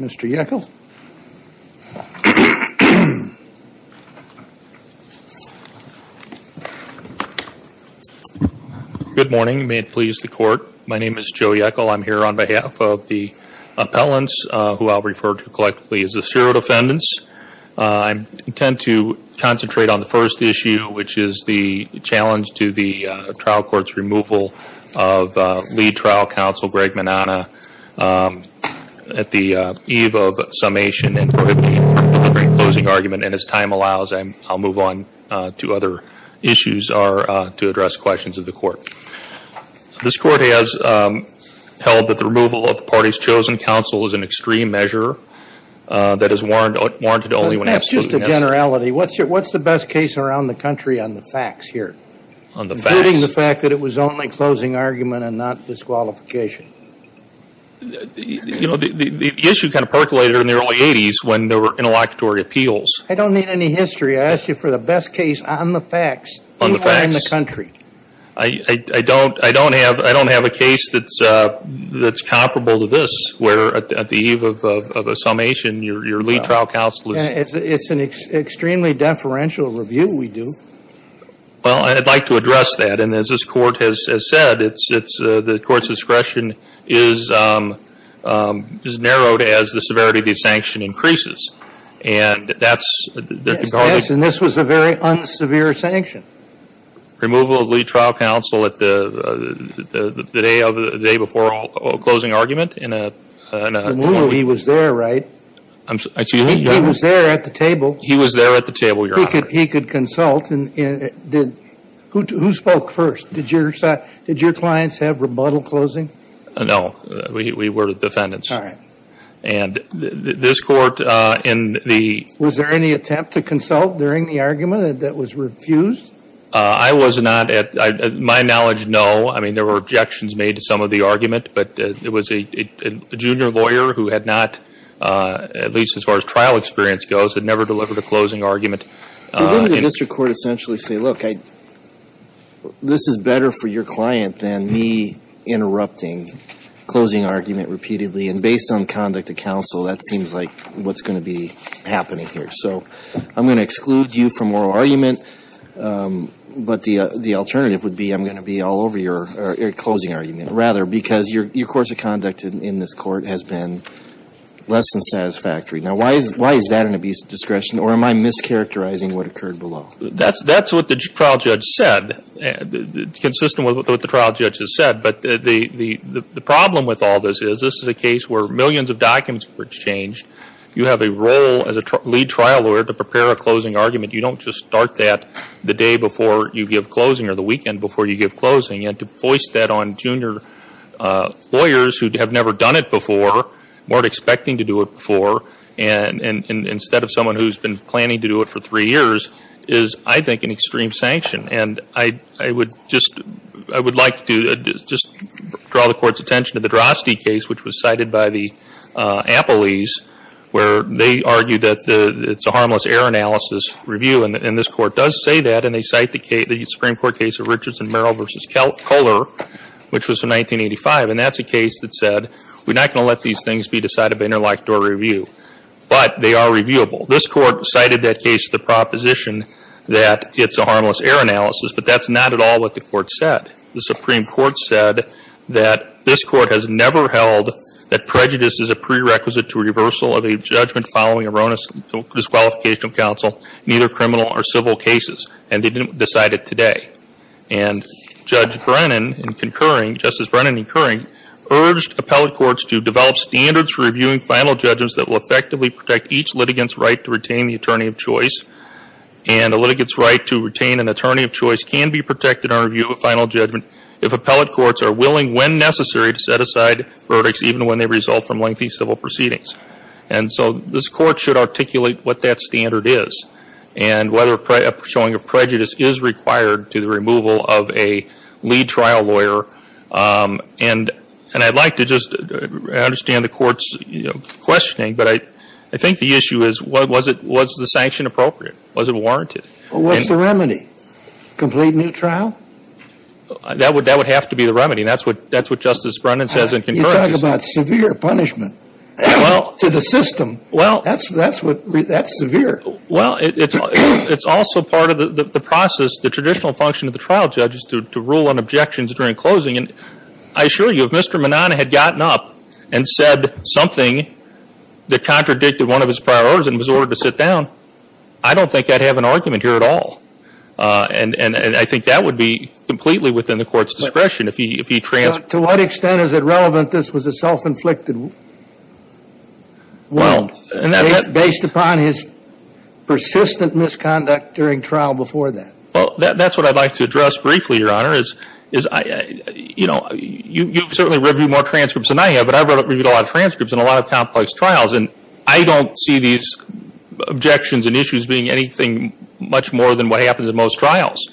Mr. Yeckel. Good morning. May it please the court. My name is Joe Yeckel. I'm here on behalf of the appellants, who I'll refer to collectively as the serial defendants. I intend to concentrate on the first issue, which is the challenge to the trial court's removal of lead trial counsel Greg Manana at the eve of summation and closing argument. And as time allows, I'll move on to other issues to address questions of the court. This court has held that the removal of the party's chosen counsel is an extreme measure that is warranted only when absolutely necessary. That's just a generality. What's the best case around the facts here? On the facts? Including the fact that it was only closing argument and not disqualification. You know, the issue kind of percolated in the early 80s when there were interlocutory appeals. I don't need any history. I ask you for the best case on the facts. On the facts. In the country. I don't, I don't have, I don't have a case that's, that's comparable to this, where at the eve of a summation your lead trial counsel is. It's an extremely deferential review we do. Well, I'd like to address that. And as this court has said, it's, it's, the court's discretion is, is narrowed as the severity of the sanction increases. And that's. Yes, and this was a very unsevere sanction. Removal of lead trial counsel at the, the day of, the day before closing argument in a, in a. He was there, right? He was there at the table. He was there at the table, your honor. He could, he could consult and did, who, who spoke first? Did your, did your clients have rebuttal closing? No, we were defendants. All right. And this court in the. Was there any attempt to consult during the argument that was refused? I was not at, my knowledge, no. I mean, there were objections made to some of the argument, but it was a junior lawyer who had not, at least as far as trial experience goes, had never delivered a closing argument. Didn't the district court essentially say, look, I, this is better for your client than me interrupting closing argument repeatedly. And based on conduct of counsel, that seems like what's going to be happening here. So, I'm going to exclude you from oral argument. But the, the alternative would be I'm going to be all over your, your course of conduct in this court has been less than satisfactory. Now, why is, why is that an abuse of discretion? Or am I mischaracterizing what occurred below? That's, that's what the trial judge said. Consistent with what the trial judge has said. But the, the, the problem with all this is this is a case where millions of documents were exchanged. You have a role as a lead trial lawyer to prepare a closing argument. You don't just start that the day before you give closing or the weekend before you give closing. And to voice that on junior lawyers who have never done it before, weren't expecting to do it before, and, and, and instead of someone who's been planning to do it for three years, is, I think, an extreme sanction. And I, I would just, I would like to just draw the court's attention to the Droste case, which was cited by the Appleys, where they argue that the, it's a harmless error analysis review. And, and this court does say that. And they cite the case, the Supreme Court case of Richards and Merrill v. Kohler, which was in 1985. And that's a case that said, we're not going to let these things be decided by interlocutor review. But they are reviewable. This court cited that case to the proposition that it's a harmless error analysis. But that's not at all what the court said. The Supreme Court said that this court has never held that prejudice is a prerequisite to reversal of a judgment following erroneous disqualification of counsel in either criminal or civil cases. And they didn't decide it today. And Judge Brennan in concurring, Justice Brennan in concurring, urged appellate courts to develop standards for reviewing final judgments that will effectively protect each litigant's right to retain the attorney of choice. And a litigant's right to retain an attorney of choice can be protected under review of a final judgment if appellate courts are willing, when necessary, to set aside verdicts even when they result from lengthy civil proceedings. And so this court should articulate what that standard is. And whether showing of prejudice is required to the removal of a lead trial lawyer. And I'd like to just understand the court's questioning. But I think the issue is, was the sanction appropriate? Was it warranted? Well, what's the remedy? Complete new trial? That would have to be the remedy. And that's what Justice Brennan says in concurrence. You talk about severe punishment to the system. That's severe. Well, it's also part of the process, the traditional function of the trial judge is to rule on objections during closing. And I assure you, if Mr. Manana had gotten up and said something that contradicted one of his prior orders and was ordered to sit down, I don't think I'd have an argument here at all. And I think that would be completely within the court's discretion if he transferred. To what extent is it relevant this was a self-inflicted wound based upon his persistent misconduct during trial before that? That's what I'd like to address briefly, Your Honor. You've certainly reviewed more transcripts than I have, but I've reviewed a lot of transcripts and a lot of complex trials. And I don't see these objections and issues being anything much more than what happens in most trials.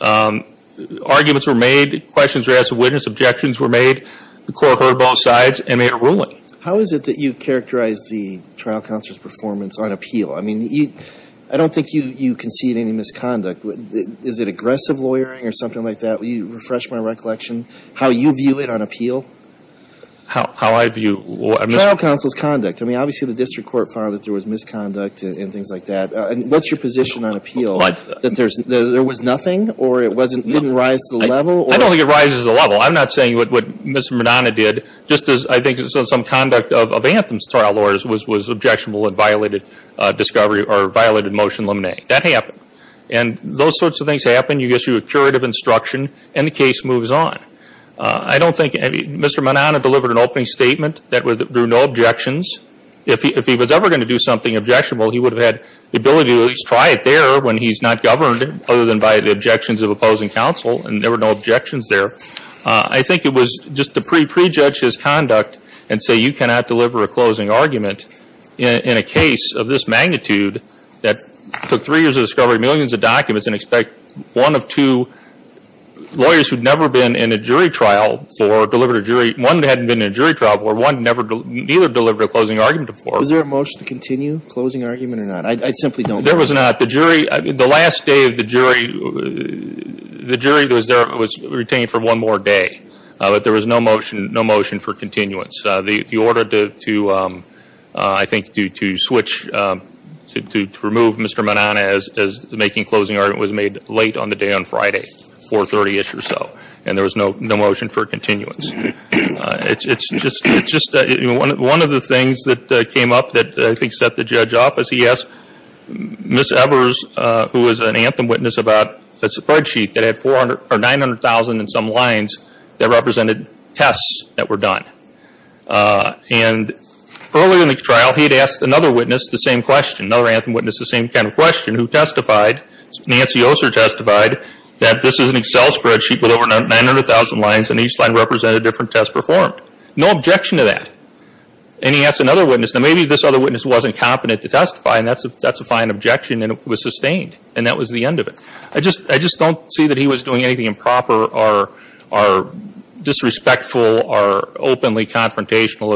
Arguments were made, questions were asked of witness, objections were made, the court heard both sides, and they are ruling. How is it that you characterize the trial counsel's performance on appeal? I mean, I don't think you concede any misconduct. Is it aggressive lawyering or something like that? Will you refresh my recollection? How you view it on appeal? How I view? Trial counsel's conduct. I mean, obviously the district court found that there was misconduct and things like that. And what's your position on appeal? That there was nothing or it didn't rise to the level? I don't think it rises to the level. I'm not saying what Mr. Manana did, just as I think some conduct of Anthem's trial lawyers was objectionable and violated discovery or violated motion luminae. That happened. And those sorts of things happen. You issue a curative instruction and the case moves on. I don't think, I mean, Mr. Manana delivered an opening statement that there were no objections. If he was ever going to do something objectionable, he would have had the ability to at least try it there when he's not governed, other than by the objections of opposing counsel and there were no objections there. I think it was just to pre-judge his conduct and say you cannot deliver a closing argument in a case of this magnitude that took three years of discovery, millions of documents and expect one of two lawyers who'd never been in a jury trial for delivering a jury one that hadn't been in a jury trial before, one that never, neither delivered a closing argument before. Was there a motion to continue closing argument or not? I simply don't know. There was not. The jury, the last day of the jury, the jury was there, was retained for one more day. But there was no motion, no motion for continuance. The order to, I think to switch, to remove Mr. Manana as making closing argument was made late on the day on Friday, 4.30ish or so. And there was no motion for continuance. It's just, it's just, one of the things that came up that I think set the judge off is he asked Ms. Evers, who was an anthem witness about a spreadsheet that had 400, or 900,000 and some lines that represented tests that were done. And earlier in the trial, he'd asked another witness the same question, another anthem witness the same kind of question, who testified, Nancy Oser testified, that this is an Excel spreadsheet with over 900,000 lines and each line represented different tests performed. No objection to that. And he asked another witness, now maybe this other witness wasn't competent to testify and that's a, that's a fine objection and it was sustained. And that was the end of it. I just, I just don't see that he was doing anything improper or, or disrespectful or openly confrontational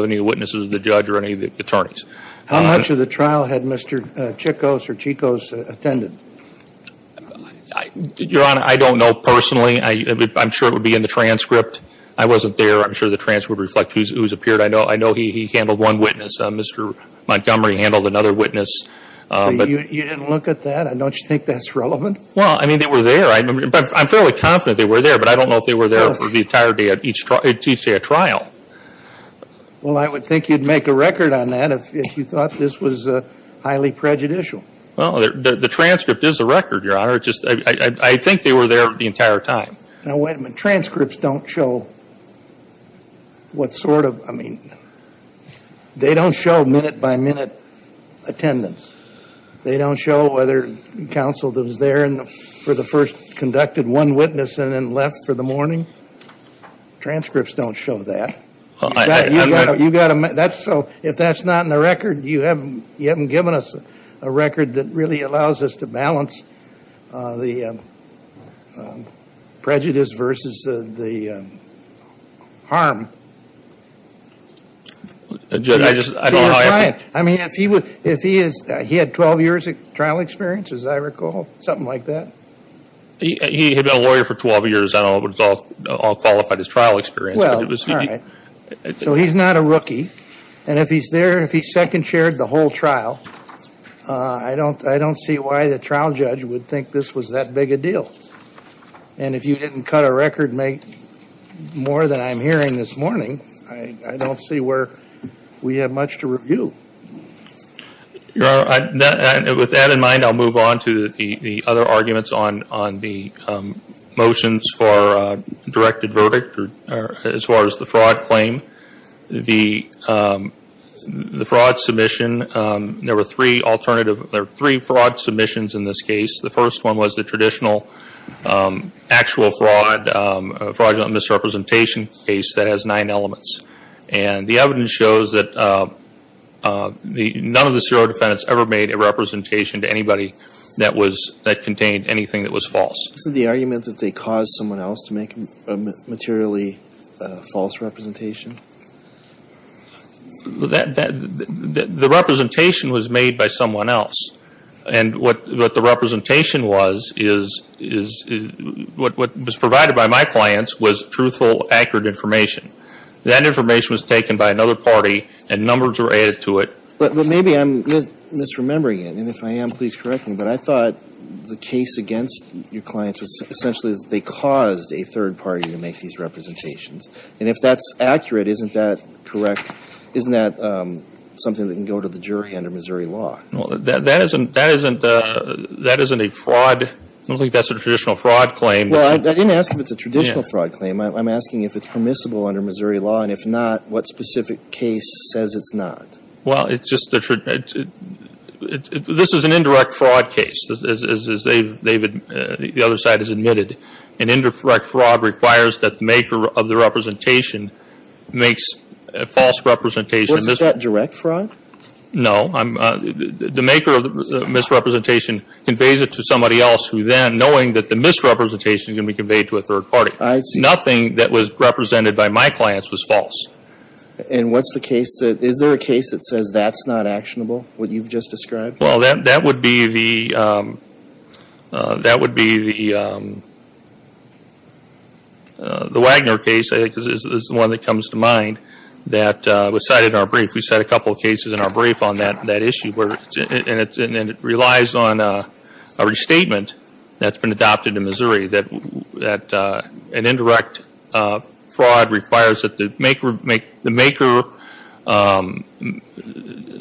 the trial had Mr. Chikos or Chikos attended? Your Honor, I don't know personally. I, I'm sure it would be in the transcript. I wasn't there. I'm sure the transcript would reflect who's, who's appeared. I know, I know he, he handled one witness. Mr. Montgomery handled another witness. So you, you didn't look at that? Don't you think that's relevant? Well, I mean, they were there. I'm, I'm fairly confident they were there, but I don't know if they were there for the entire day of each trial, each day of trial. Well, I would think you'd make a record on that if, if you thought this was highly prejudicial. Well, the, the transcript is a record, Your Honor. It just, I, I, I think they were there the entire time. Now, wait a minute. Transcripts don't show what sort of, I mean, they don't show minute by minute attendance. They don't show whether counsel that was there for the first conducted one witness and then left for the morning. Transcripts don't show that. Well, I, I. You got to, that's so, if that's not in the record, you haven't, you haven't given us a record that really allows us to balance the prejudice versus the, the harm. Judge, I just, I don't know how I. I mean, if he was, if he is, he had 12 years of trial experience, as I recall? Something like that? He, he had been a lawyer for 12 years. I don't know if it's all, all Well, all right. So he's not a rookie. And if he's there, if he's second chaired the whole trial, I don't, I don't see why the trial judge would think this was that big a deal. And if you didn't cut a record more than I'm hearing this morning, I, I don't see where we have much to review. Your Honor, with that in mind, I'll move on to the, the verdict, or as far as the fraud claim. The, the fraud submission, there were three alternative, there were three fraud submissions in this case. The first one was the traditional actual fraud, fraudulent misrepresentation case that has nine elements. And the evidence shows that the, none of the zero defendants ever made a representation to anybody that was, that contained anything that was false. Isn't the argument that they caused someone else to make a materially false representation? That, that, the representation was made by someone else. And what, what the representation was is, is, what, what was provided by my clients was truthful, accurate information. That information was taken by another party and numbers were added to it. But, but maybe I'm misremembering it. And if I am, please correct me. But I thought the case against your clients was essentially that they caused a third party to make these representations. And if that's accurate, isn't that correct, isn't that something that can go to the jury under Missouri law? Well, that, that isn't, that isn't a, that isn't a fraud. I don't think that's a traditional fraud claim. Well, I didn't ask if it's a traditional fraud claim. I'm asking if it's permissible under Missouri law. And if not, what specific case says it's not? Well, it's just the, this is an indirect fraud case. As, as, as David, the other side has admitted, an indirect fraud requires that the maker of the representation makes a false representation. What's that, direct fraud? No. I'm, the, the maker of the misrepresentation conveys it to somebody else who then, knowing that the misrepresentation is going to be conveyed to a third party. I see. Nothing that was represented by my clients was false. And what's the case that, is there a case that says that's not actionable, what you've just described? Well, that, that would be the, that would be the, the Wagner case, I think, is the one that comes to mind that was cited in our brief. We cite a couple of cases in our brief on that, that issue where, and it's, and it relies on a restatement that's been adopted in Missouri that, that an indirect fraud requires that the maker, make, the maker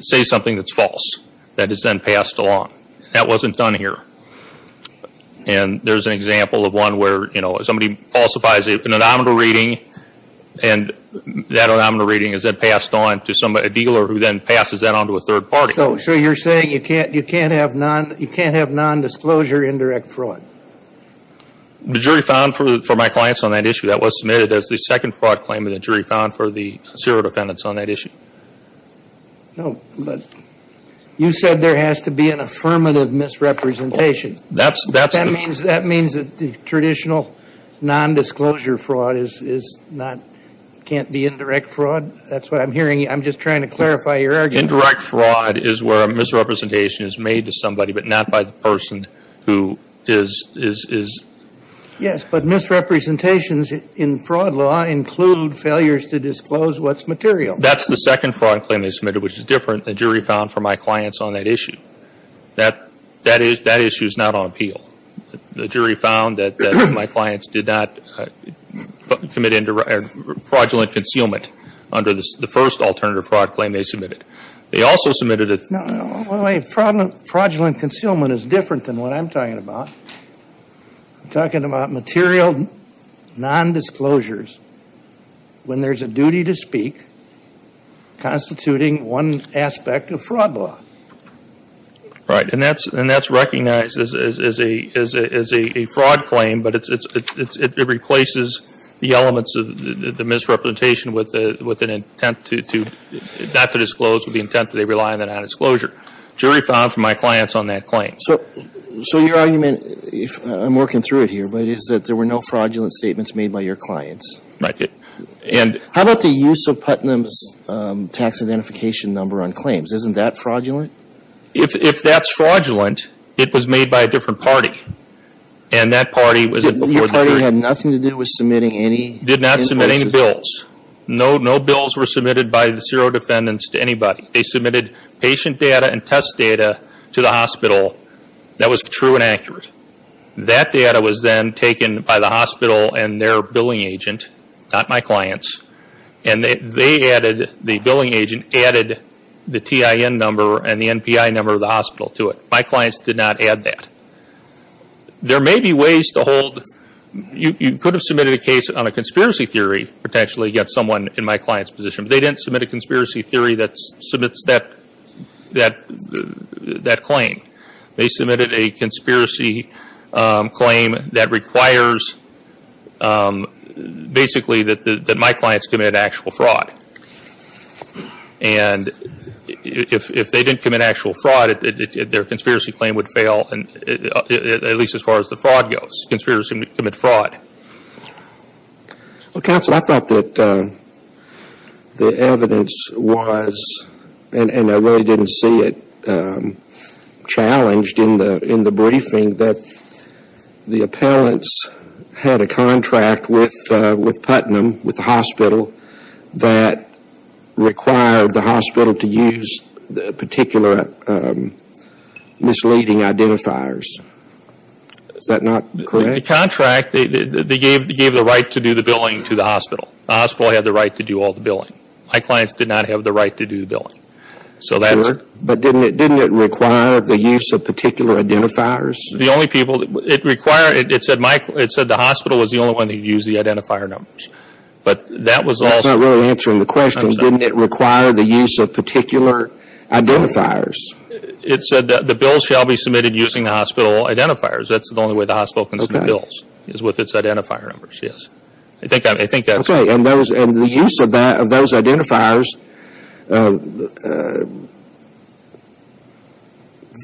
say something that's then passed along. That wasn't done here. And there's an example of one where, you know, somebody falsifies a, an anonymous reading and that anonymous reading is then passed on to somebody, a dealer who then passes that on to a third party. So, so you're saying you can't, you can't have non, you can't have nondisclosure indirect fraud? The jury found for, for my clients on that issue, that was submitted as the second fraud claim and the jury found for the serial defendants on that issue. No, but you said there has to be an affirmative misrepresentation. That's, that's the That means, that means that the traditional nondisclosure fraud is, is not, can't be indirect fraud? That's what I'm hearing. I'm just trying to clarify your argument. Indirect fraud is where a misrepresentation is made to somebody, but not by the person who is, is, is Yes, but misrepresentations in fraud law include failures to disclose what's material. That's the second fraud claim they submitted, which is different than the jury found for my clients on that issue. That, that issue is not on appeal. The jury found that my clients did not commit fraudulent concealment under the first alternative fraud claim they submitted. They also submitted a No, fraudulent concealment is different than what I'm talking about. I'm talking about material nondisclosures when there's a duty to speak constituting one aspect of fraud law. Right, and that's, and that's recognized as, as a, as a, as a fraud claim, but it's, it's, it replaces the elements of the misrepresentation with the, with an intent to, to, not to disclose with the intent that they rely on that nondisclosure. Jury found for my clients on that claim. So, so your argument, if, I'm working through it here, but it is that there were no fraudulent statements made by your clients. Right, and How about the use of Putnam's tax identification number on claims? Isn't that fraudulent? If, if that's fraudulent, it was made by a different party, and that party was Your party had nothing to do with submitting any Did not submit any bills. No, no bills were submitted by the serial defendants to anybody. They submitted patient data and test data to the hospital that was true and accurate. That data was then taken by the hospital and their billing agent, not my clients, and they added, the billing agent added the TIN number and the NPI number of the hospital to it. My clients did not add that. There may be ways to hold, you, you could have submitted a case on a conspiracy theory potentially against someone in my client's position, but they didn't submit a conspiracy theory that submits that, that, that claim. They submitted a conspiracy, um, claim that requires, um, basically that, that my clients commit actual fraud. And if, if they didn't commit actual fraud, it, it, their conspiracy claim would fail and it, at least as far as the fraud goes. Conspirators commit fraud. Well, counsel, I thought that, um, the evidence was, and, and I really didn't see it, um, challenged in the, in the briefing that the appellants had a contract with, uh, with Putnam, with the hospital that required the hospital to use the particular, um, misleading identifiers. Is that not correct? The contract, they, they, they gave, they gave the right to do the billing to the hospital. The hospital had the right to do all the billing. My clients did not have the right to do the billing. So that's... Sure, but didn't it, didn't it require the use of particular identifiers? The only people that, it required, it said my, it said the hospital was the only one that used the identifier numbers. But that was also... That's not really answering the question. I'm sorry. Didn't it require the use of particular identifiers? It said that the bill shall be submitted using the hospital identifiers. That's the only way the hospital can submit bills, is with its identifier numbers, yes. I think that, I think that's... Okay, and those, and the use of that, of those identifiers, uh, uh,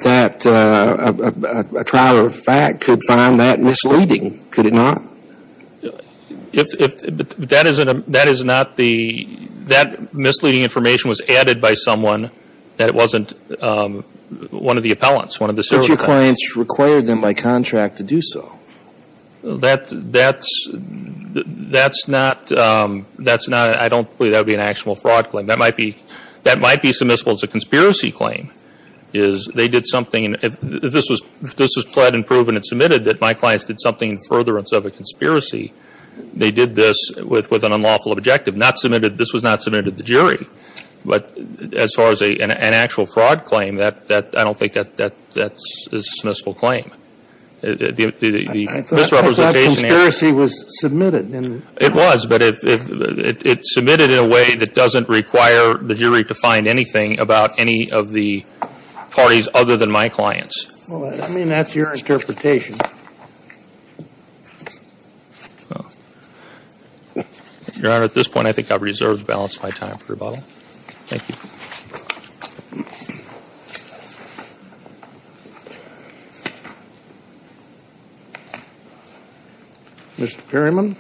that, uh, a, a, a trial of fact could find that misleading, could it not? If, if, that isn't a, that is not the, that misleading information was added by someone that it wasn't, um, one of the appellants, one of the... But your clients required them by contract to do so. That, that's, that's not, um, that's not, I don't believe that would be an actual fraud claim. That might be, that might be submissible as a conspiracy claim, is they did something, if this was, if this was pled and proven and submitted that my clients did something in furtherance of a conspiracy, they did this with, with an unlawful objective, not submitted, this was not submitted to the jury. But as far as a, an actual fraud claim, that, that, I don't think that, that, that is a submissible claim. The, the, the misrepresentation... I thought, I thought that conspiracy was submitted in... It was, but it, it, it, it's submitted in a way that doesn't require the jury to find anything about any of the parties other than my clients. Well, I mean, that's your interpretation. Well, Your Honor, at this point, I think I've reserved the balance of my time for rebuttal. Thank you. Mr. Perryman.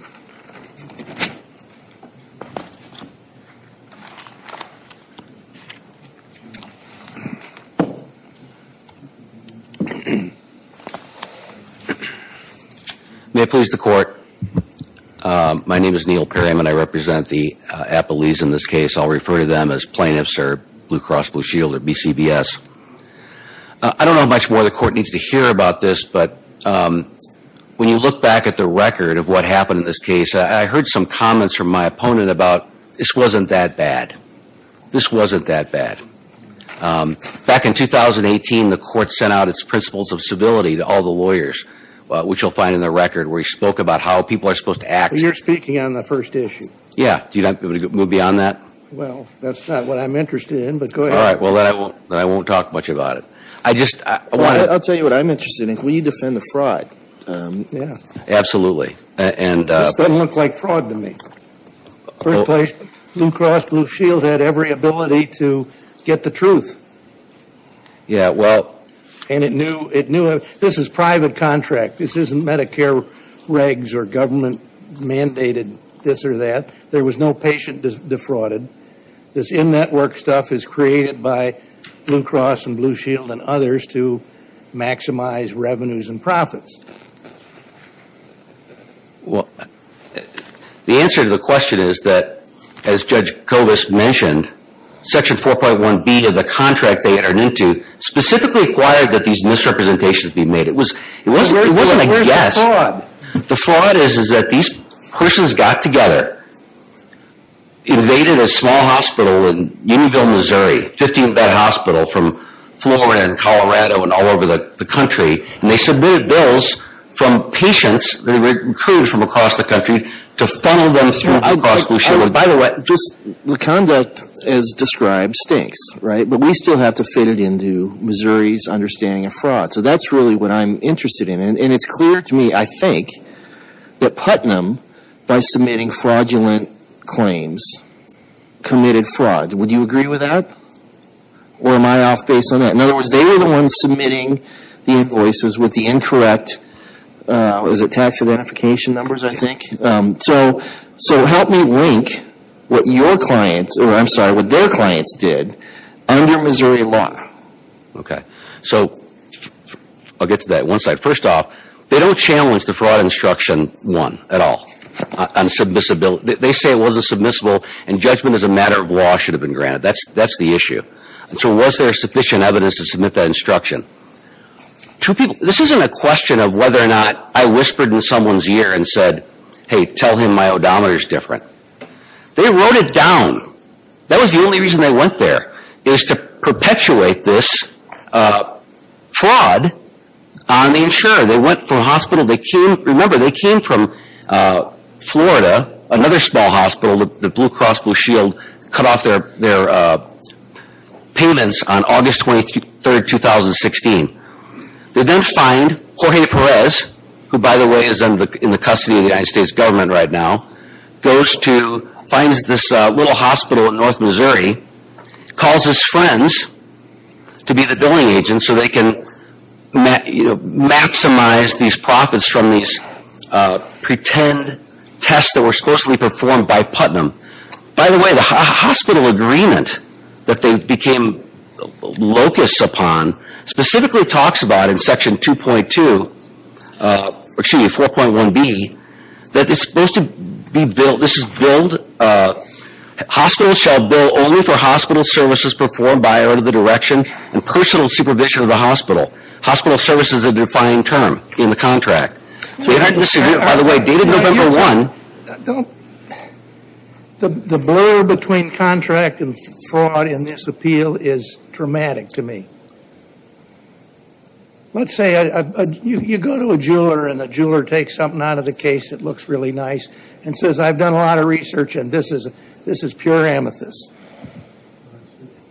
May it please the Court. My name is Neil Perryman. I represent the, uh, Appellees in this case. I'll refer to them as plaintiffs or Blue Cross Blue Shield or BCBS. I don't know much more the Court needs to hear about this, but, um, when you look back at the record of what happened in this case, I, I heard some comments from my opponent about this wasn't that bad. This wasn't that bad. Um, back in 2018, the Court sent out its principles of civility to all the lawyers, uh, which you'll find in the record, where he spoke about how people are supposed to act... You're speaking on the first issue. Yeah. Do you not, would you move beyond that? Well, that's not what I'm interested in, but go ahead. All right. Well, then I won't, then I won't talk much about it. I just, I want to... I'll tell you what I'm interested in. Will you defend the fraud? Um, yeah. Absolutely. And, uh... This doesn't look like fraud to me. First place, Blue Cross Blue Shield had every ability to get the truth. Yeah, well... And it knew, it knew... This is private contract. This isn't Medicare regs or government mandated this or that. There was no patient defrauded. This in-network stuff is created by Blue Cross and Blue Shield and others to maximize revenues and profits. Well, the answer to the question is that, as Judge Kovas mentioned, Section 4.1B of the contract they entered into specifically required that these misrepresentations be made. It was, it wasn't a guess. Where's the fraud? The fraud is, is that these persons got together, invaded a small hospital in Unionville, Missouri, a 15-bed hospital from Florida and Colorado and all over the country, and they submitted bills from patients that were recruited from across the country to funnel them through Blue Cross Blue Shield. By the way... Just, the conduct as described stinks, right? But we still have to fit it into Missouri's understanding of fraud. So that's really what I'm interested in. And it's clear to me, I think, that Putnam, by submitting fraudulent claims, committed fraud. Would you agree with that? Or am I off base on that? In other words, they were the ones submitting the invoices with the incorrect, was it tax identification numbers, I think? So help me link what your clients, or I'm sorry, what their clients did under Missouri law. Okay. So I'll get to that one side. First off, they don't challenge the Fraud Instruction 1 at all on submissibility. They say it wasn't submissible, and judgment as a matter of law should have been granted. That's the issue. So was there sufficient evidence to submit that instruction? This isn't a question of whether or not I whispered in someone's ear and said, hey, tell him my odometer's different. They wrote it down. That was the only reason they went there, is to perpetuate this fraud on the insurer. They went from hospital, they came, remember, they came from Florida, another small hospital, the Blue Cross Blue Shield, cut off their payments on August 23rd, 2016. They then find Jorge Perez, who by the way is in the custody of the United States government right now, goes to, finds this little hospital in North Missouri, calls his friends to be the billing agents so they can maximize these profits from these pretend tests that were supposedly performed by Putnam. By the way, the hospital agreement that they became locusts upon specifically talks about in Section 2.2, excuse me, 4.1b, that it's supposed to be billed, this is billed, hospitals shall bill only for hospital services performed by order of the direction and personal supervision of the hospital. Hospital service is a defining term in the contract. By the way, dated November 1. The blur between contract and fraud in this appeal is dramatic to me. Let's say you go to a jeweler and the jeweler takes something out of the case that looks really nice and says, I've done a lot of research and this is pure amethyst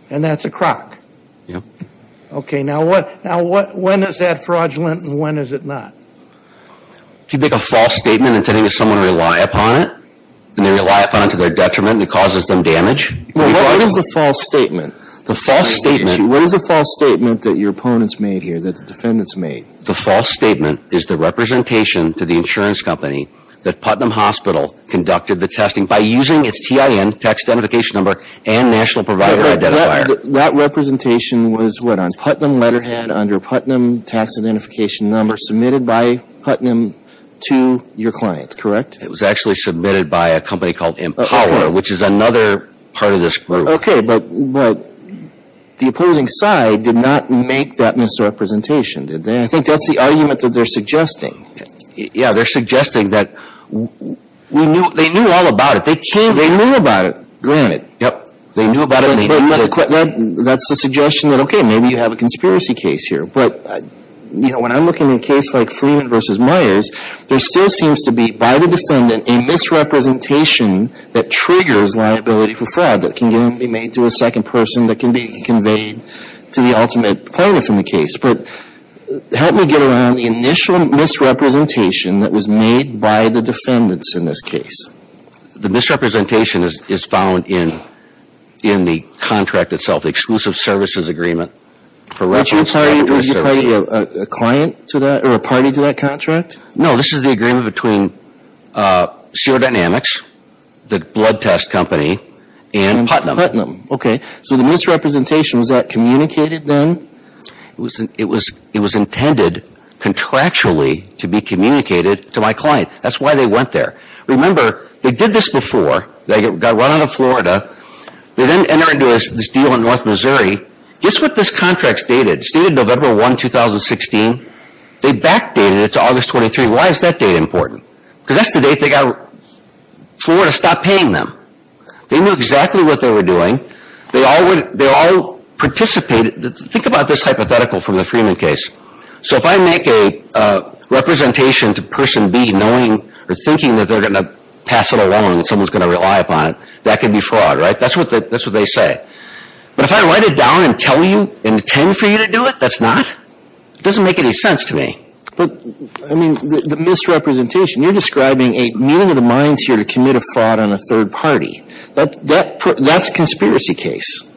and that's a crock. Yeah. Okay. Now what, now what, when is that fraudulent and when is it not? Do you make a false statement intending that someone rely upon it and they rely upon it to their detriment and it causes them damage? Well, what is the false statement? The false statement. What is the false statement that your opponents made here, that the defendants made? The false statement is the representation to the insurance company that Putnam Hospital conducted the testing by using its TIN, tax identification number, and national provider identifier. That representation was what, on Putnam letterhead under Putnam tax identification number submitted by Putnam to your client, correct? It was actually submitted by a company called Empower, which is another part of this group. Okay, but the opposing side did not make that misrepresentation, did they? I mean, I think that's the argument that they're suggesting. Yeah, they're suggesting that we knew, they knew all about it. They came, they knew about it, granted. Yep. They knew about it and they knew that. But that's the suggestion that, okay, maybe you have a conspiracy case here. But, you know, when I'm looking at a case like Freeman versus Myers, there still seems to be, by the defendant, a misrepresentation that triggers liability for fraud that can then be made to a second person that can be conveyed to the ultimate plaintiff in the case. But help me get around the initial misrepresentation that was made by the defendants in this case. The misrepresentation is found in the contract itself, the exclusive services agreement for reference to that service. Was your client a client to that or a party to that contract? No. This is the agreement between Serodynamics, the blood test company, and Putnam. And Putnam. Okay. So the misrepresentation, was that communicated then? It was intended contractually to be communicated to my client. That's why they went there. Remember, they did this before. They got run out of Florida. They then entered into this deal in North Missouri. Guess what this contract stated? It stated November 1, 2016. They backdated it to August 23. Why is that date important? Because that's the date they got Florida to stop paying them. They knew exactly what they were doing. They all participated. Think about this hypothetical from the Freeman case. So if I make a representation to person B knowing or thinking that they're going to pass it along and someone's going to rely upon it, that could be fraud, right? That's what they say. But if I write it down and tell you, intend for you to do it, that's not, it doesn't make any sense to me. But, I mean, the misrepresentation, you're describing a meeting of the minds here to commit a fraud on a third party. That's a conspiracy case.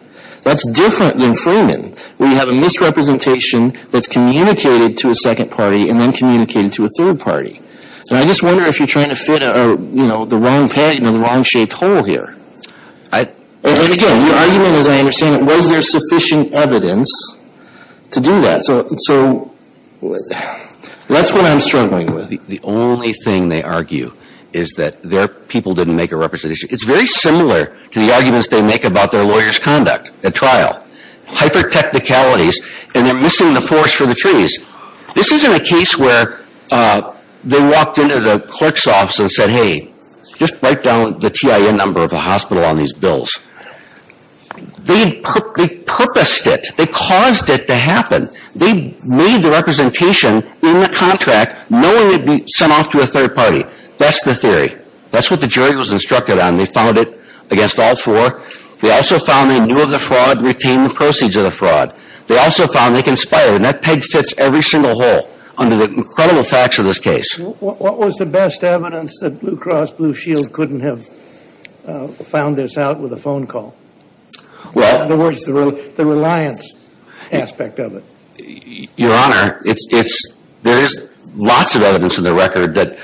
That's different than Freeman, where you have a misrepresentation that's communicated to a second party and then communicated to a third party. And I just wonder if you're trying to fit the wrong patent in the wrong shaped hole here. And again, your argument, as I understand it, was there sufficient evidence to do that? So, that's what I'm struggling with. The only thing they argue is that their people didn't make a representation. It's very similar to the arguments they make about their lawyer's conduct at trial. Hyper-technicalities and they're missing the forest for the trees. This isn't a case where they walked into the clerk's office and said, hey, just write down the TIN number of a hospital on these bills. They purposed it. They caused it to happen. They made the representation in the contract knowing it would be sent off to a third party. That's the theory. That's what the jury was instructed on. They found it against all four. They also found they knew of the fraud, retained the proceeds of the fraud. They also found they conspired. And that peg fits every single hole under the incredible facts of this case. What was the best evidence that Blue Cross Blue Shield couldn't have found this out with a phone call? In other words, the reliance aspect of it. Your Honor, there is lots of evidence in the record that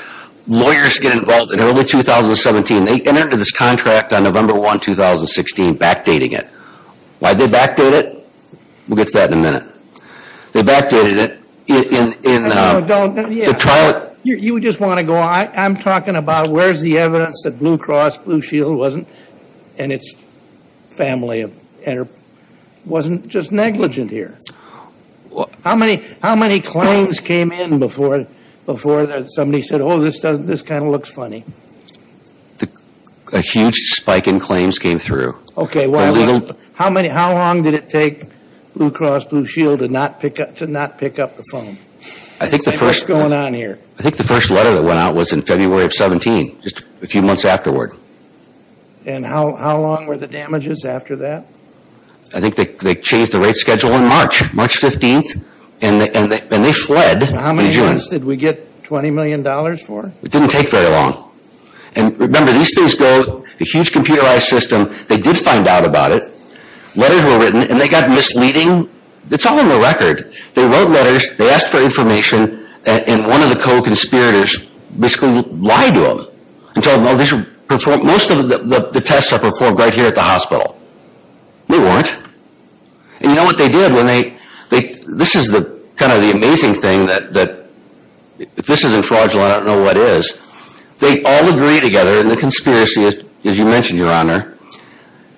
lawyers get involved in early 2017. They entered into this contract on November 1, 2016, backdating it. Why'd they backdate it? We'll get to that in a minute. They backdated it in the trial. You just want to go on. I'm talking about where's the evidence that Blue Cross Blue Shield wasn't. And its family wasn't just negligent here. How many claims came in before somebody said, oh, this kind of looks funny? A huge spike in claims came through. Okay. How long did it take Blue Cross Blue Shield to not pick up the phone? I think the first letter that went out was in February of 17, just a few months afterward. And how long were the damages after that? I think they changed the rate schedule in March, March 15th, and they fled in June. How many months did we get $20 million for? It didn't take very long. And remember, these things go, a huge computerized system, they did find out about it. Letters were written, and they got misleading. It's all in the record. They wrote letters, they asked for information, and one of the co-conspirators basically lied to them and told them, oh, most of the tests are performed right here at the hospital. They weren't. And you know what they did when they, this is kind of the amazing thing that, if this isn't fraudulent, I don't know what is. They all agreed together, and the conspiracy, as you mentioned, Your Honor,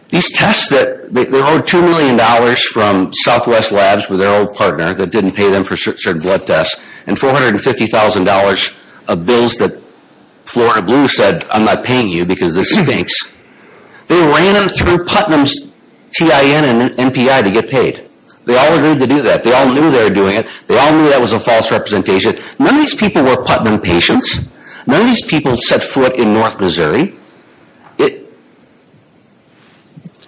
these tests that, they owed $2 million from Southwest Labs with their old partner that didn't pay for blood tests, and $450,000 of bills that Florida Blue said, I'm not paying you because this stinks. They ran them through Putnam's TIN and MPI to get paid. They all agreed to do that. They all knew they were doing it. They all knew that was a false representation. None of these people were Putnam patients. None of these people set foot in North Missouri.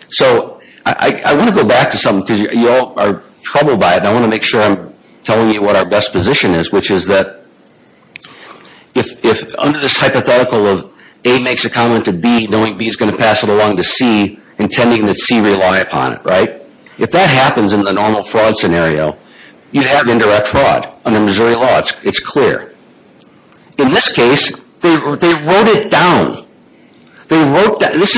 So I want to go back to something, because you all are troubled by it, and I want to make sure I'm telling you what our best position is, which is that if under this hypothetical of A makes a comment to B, knowing B is going to pass it along to C, intending that C rely upon it, right? If that happens in the normal fraud scenario, you have indirect fraud under Missouri law. It's clear. In this case, they wrote it down. They wrote down, this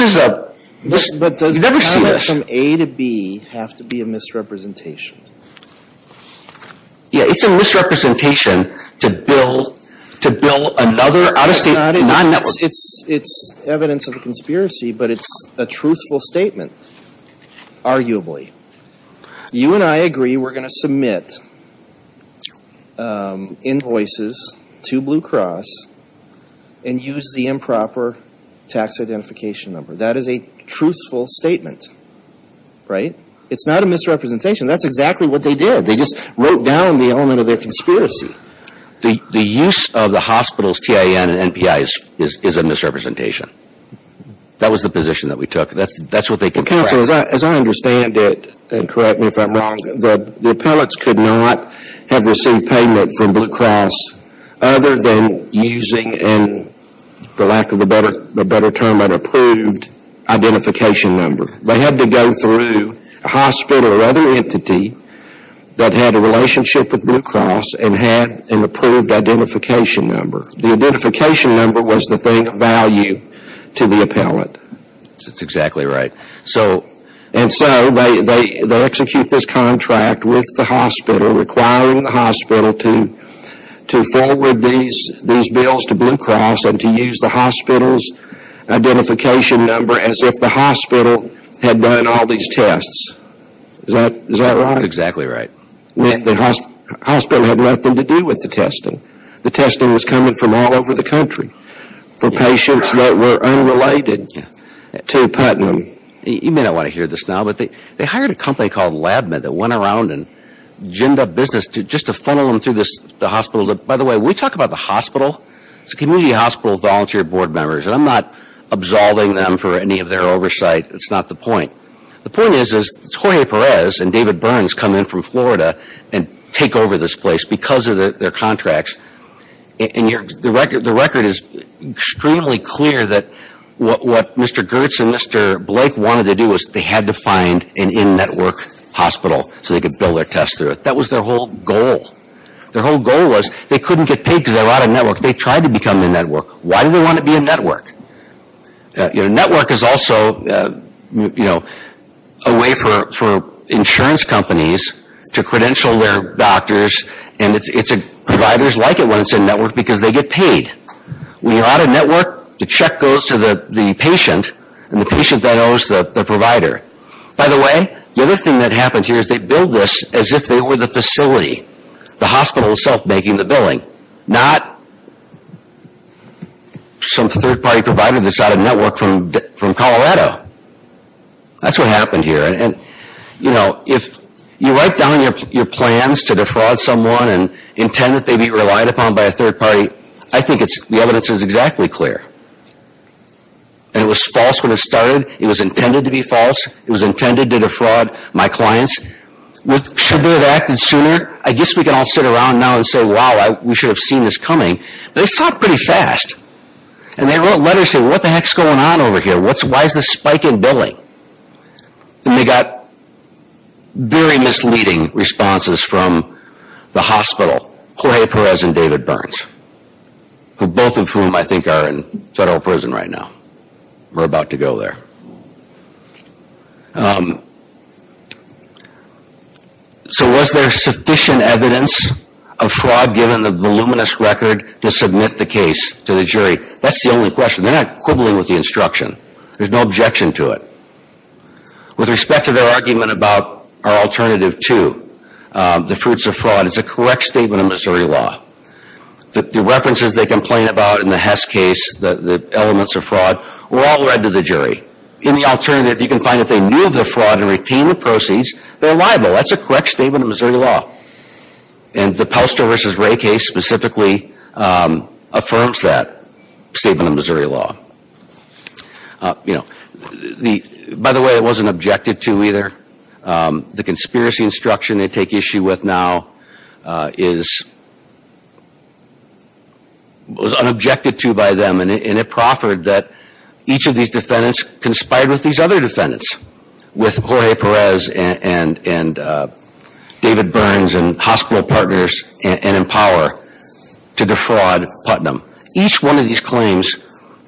is a, you never see this. Does going from A to B have to be a misrepresentation? Yeah, it's a misrepresentation to bill another out-of-state non-network. It's evidence of a conspiracy, but it's a truthful statement, arguably. You and I agree we're going to submit invoices to Blue Cross and use the improper tax identification number. That is a truthful statement, right? It's not a misrepresentation. That's exactly what they did. They just wrote down the element of their conspiracy. The use of the hospital's TIN and NPI is a misrepresentation. That was the position that we took. That's what they can correct. Counsel, as I understand it, and correct me if I'm wrong, the appellates could not have number. They had to go through a hospital or other entity that had a relationship with Blue Cross and had an approved identification number. The identification number was the thing of value to the appellate. That's exactly right. And so, they execute this contract with the hospital, requiring the hospital to forward these bills to Blue Cross and to use the hospital's identification number as if the hospital had done all these tests. Is that right? That's exactly right. The hospital had nothing to do with the testing. The testing was coming from all over the country for patients that were unrelated to Putnam. You may not want to hear this now, but they hired a company called LabMed that went around business just to funnel them through the hospital. By the way, we talk about the hospital. It's a community hospital with volunteer board members. I'm not absolving them for any of their oversight. That's not the point. The point is, is Jorge Perez and David Burns come in from Florida and take over this place because of their contracts. The record is extremely clear that what Mr. Goertz and Mr. Blake wanted to do was they had to find an in-network hospital so they could build their tests through it. That was their whole goal. Their whole goal was they couldn't get paid because they were out of network. They tried to become in-network. Why do they want to be in-network? Network is also a way for insurance companies to credential their doctors. And providers like it when it's in-network because they get paid. When you're out of network, the check goes to the patient, and the patient then owes the provider. By the way, the other thing that happened here is they billed this as if they were the facility. The hospital itself making the billing. Not some third-party provider that's out of network from Colorado. That's what happened here. If you write down your plans to defraud someone and intend that they be relied upon by a third party, I think the evidence is exactly clear. And it was false when it started. It was intended to be false. It was intended to defraud my clients. Should we have acted sooner? I guess we can all sit around now and say, wow, we should have seen this coming. They saw it pretty fast. And they wrote letters saying, what the heck is going on over here? Why is this spike in billing? And they got very misleading responses from the hospital, Jorge Perez and David Burns, both of whom I think are in federal prison right now. We're about to go there. So was there sufficient evidence of fraud given the voluminous record to submit the case to the jury? That's the only question. They're not quibbling with the instruction. There's no objection to it. With respect to their argument about our alternative to the fruits of fraud, it's a correct statement of Missouri law. The references they complain about in the Hess case, the elements of fraud, were all read to the jury. In the alternative, you can find that they knew of the fraud and retained the proceeds. They're liable. That's a correct statement of Missouri law. And the Pelster v. Ray case specifically affirms that statement of Missouri law. By the way, it wasn't objected to either. The conspiracy instruction they take issue with now was unobjected to by them, and it proffered that each of these defendants conspired with these other defendants, with Jorge Perez and David Burns and hospital partners and in power to defraud Putnam. Each one of these claims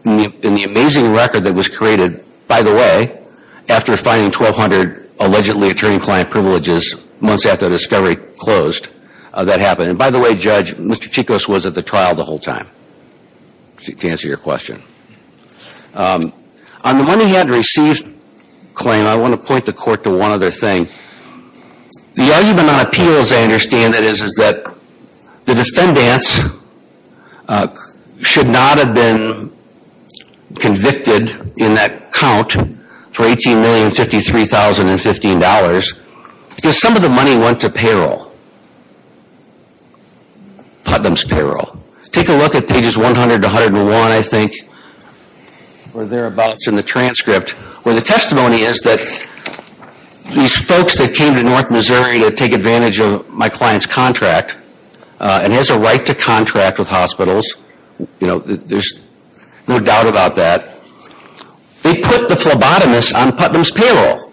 in the amazing record that was created, by the way, after finding 1,200 allegedly attorney-client privileges months after the discovery closed, that happened. And by the way, Judge, Mr. Chikos was at the trial the whole time to answer your question. On the money he had received claim, I want to point the court to one other thing. The argument on appeals, I understand, is that the defendants should not have been convicted in that count for $18,053,015 because some of the money went to payroll, Putnam's payroll. Take a look at pages 100 to 101, I think, or thereabouts in the transcript, where the testimony is that these folks that came to North Missouri to take advantage of my client's contract and has a right to contract with hospitals, you know, there's no doubt about that. They put the phlebotomist on Putnam's payroll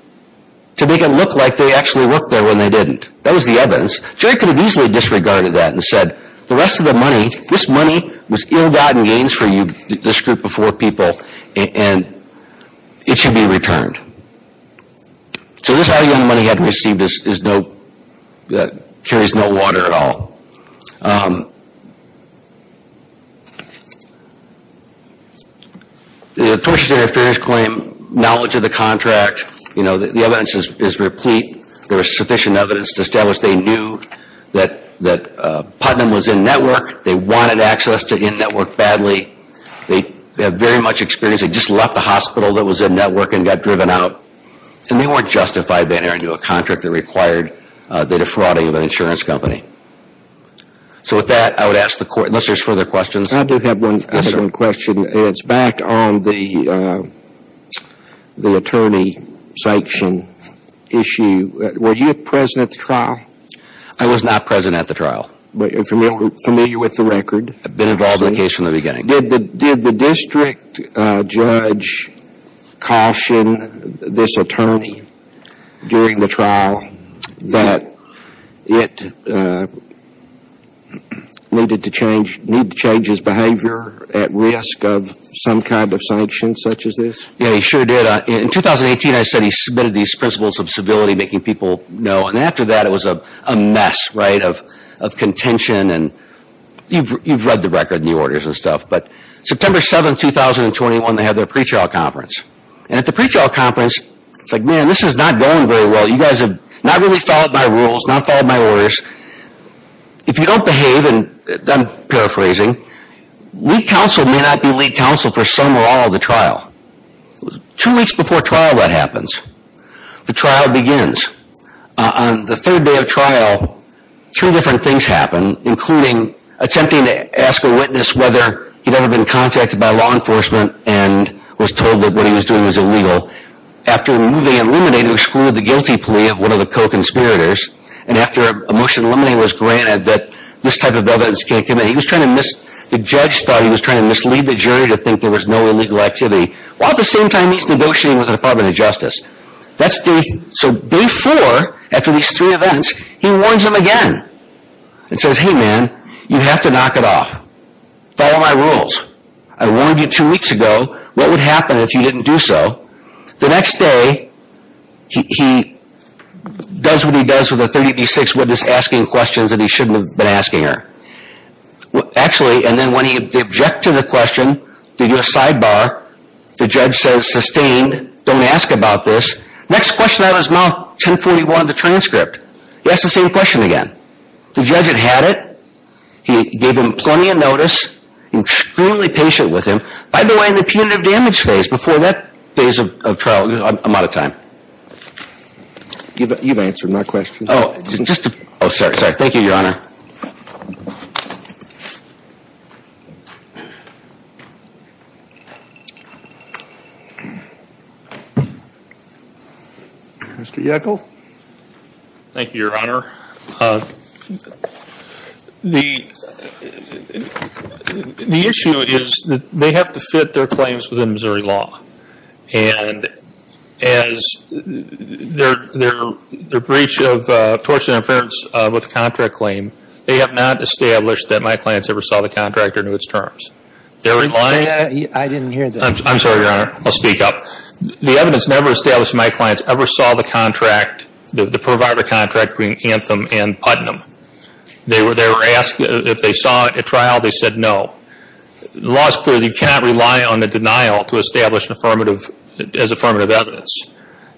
to make it look like they actually worked there when they didn't. That was the evidence. Jury could have easily disregarded that and said the rest of the money, this money was ill-gotten gains for you, this group of four people, and it should be returned. So this all the money he had received carries no water at all. The torturatory affairs claim, knowledge of the contract, you know, the evidence is replete. There is sufficient evidence to establish they knew that Putnam was in-network. They wanted access to in-network badly. They have very much experience. They just left the hospital that was in-network and got driven out, and they weren't justified by entering into a contract that required the defrauding of an insurance company. So with that, I would ask the court, unless there's further questions. I do have one question, and it's back on the attorney sanction issue. Were you present at the trial? I was not present at the trial. But you're familiar with the record? I've been involved in the case from the beginning. Did the district judge caution this attorney during the trial that it needed to change his behavior at risk of some kind of sanction such as this? Yeah, he sure did. In 2018, I said he submitted these principles of civility, making people know. And after that, it was a mess, right, of contention. You've read the record and the orders and stuff. But September 7, 2021, they had their pre-trial conference. And at the pre-trial conference, it's like, man, this is not going very well. You guys have not really followed my rules, not followed my orders. If you don't behave, and I'm paraphrasing, lead counsel may not be lead counsel for some or all of the trial. Two weeks before trial, that happens. The trial begins. On the third day of trial, three different things happen, including attempting to ask a witness whether he'd ever been contacted by law enforcement and was told that what he was doing was illegal. After moving and eliminating, he excluded the guilty plea of one of the co-conspirators. And after a motion eliminating was granted that this type of evidence can't come in, he was trying to miss – the judge thought he was trying to mislead the jury to think there was no illegal activity. While at the same time, he's negotiating with the Department of Justice. So day four, after these three events, he warns them again and says, hey, man, you have to knock it off. Follow my rules. I warned you two weeks ago. What would happen if you didn't do so? The next day, he does what he does with a 30 v. 6 witness asking questions that he shouldn't have been asking her. Actually, and then when he objected to the question, did your sidebar, the judge says, sustained. Don't ask about this. Next question out of his mouth, 1041 of the transcript. He asks the same question again. The judge had had it. He gave him plenty of notice. Extremely patient with him. By the way, in the punitive damage phase, before that phase of trial, I'm out of time. You've answered my question. Oh, sorry, sorry. Thank you, Your Honor. Mr. Yeckel. Thank you, Your Honor. The issue is that they have to fit their claims within Missouri law. And as their breach of tortuous interference with the contract claim, they have not established that my clients ever saw the contract or knew its terms. Did you say that? I didn't hear that. I'm sorry, Your Honor. I'll speak up. The evidence never established my clients ever saw the contract, the provider contract between Anthem and Putnam. They were asked if they saw it at trial. They said no. The law is clear. You cannot rely on a denial to establish as affirmative evidence.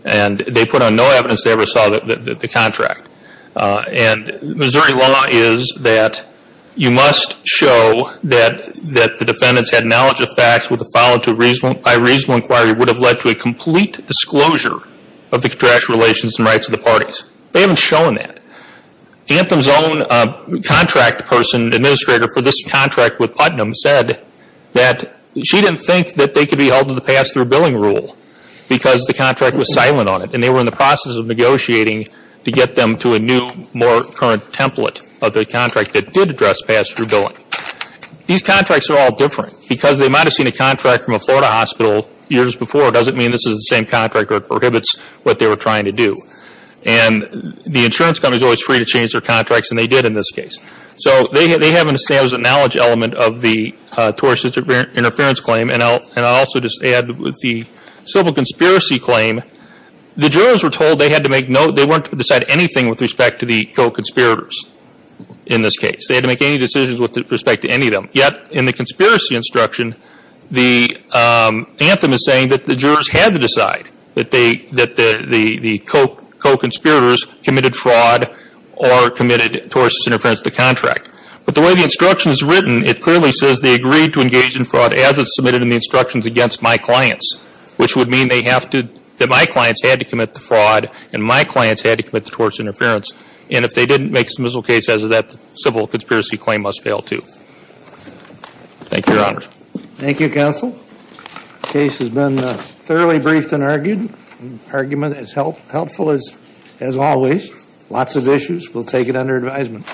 And they put on no evidence they ever saw the contract. And Missouri law is that you must show that the defendants had knowledge of facts followed by a reasonable inquiry would have led to a complete disclosure of the contract's relations and rights of the parties. They haven't shown that. Anthem's own contract person, administrator for this contract with Putnam, said that she didn't think that they could be held to the pass-through billing rule because the contract was silent on it. And they were in the process of negotiating to get them to a new, more current template of the contract that did address pass-through billing. These contracts are all different because they might have seen a contract from a Florida hospital years before. It doesn't mean this is the same contract or it prohibits what they were trying to do. And the insurance company is always free to change their contracts, and they did in this case. So they haven't established a knowledge element of the tourist interference claim. And I'll also just add with the civil conspiracy claim, the jurors were told they had to make no, they weren't to decide anything with respect to the co-conspirators in this case. They had to make any decisions with respect to any of them. Yet in the conspiracy instruction, Anthem is saying that the jurors had to decide, that the co-conspirators committed fraud or committed tourist interference to the contract. But the way the instruction is written, it clearly says they agreed to engage in fraud as it's submitted in the instructions against my clients, which would mean they have to, that my clients had to commit the fraud, and my clients had to commit the tourist interference. And if they didn't make a submissive case as that civil conspiracy claim must fail too. Thank you, Your Honor. Thank you, Counsel. Case has been thoroughly briefed and argued. Argument as helpful as always. Lots of issues. We'll take it under advisement.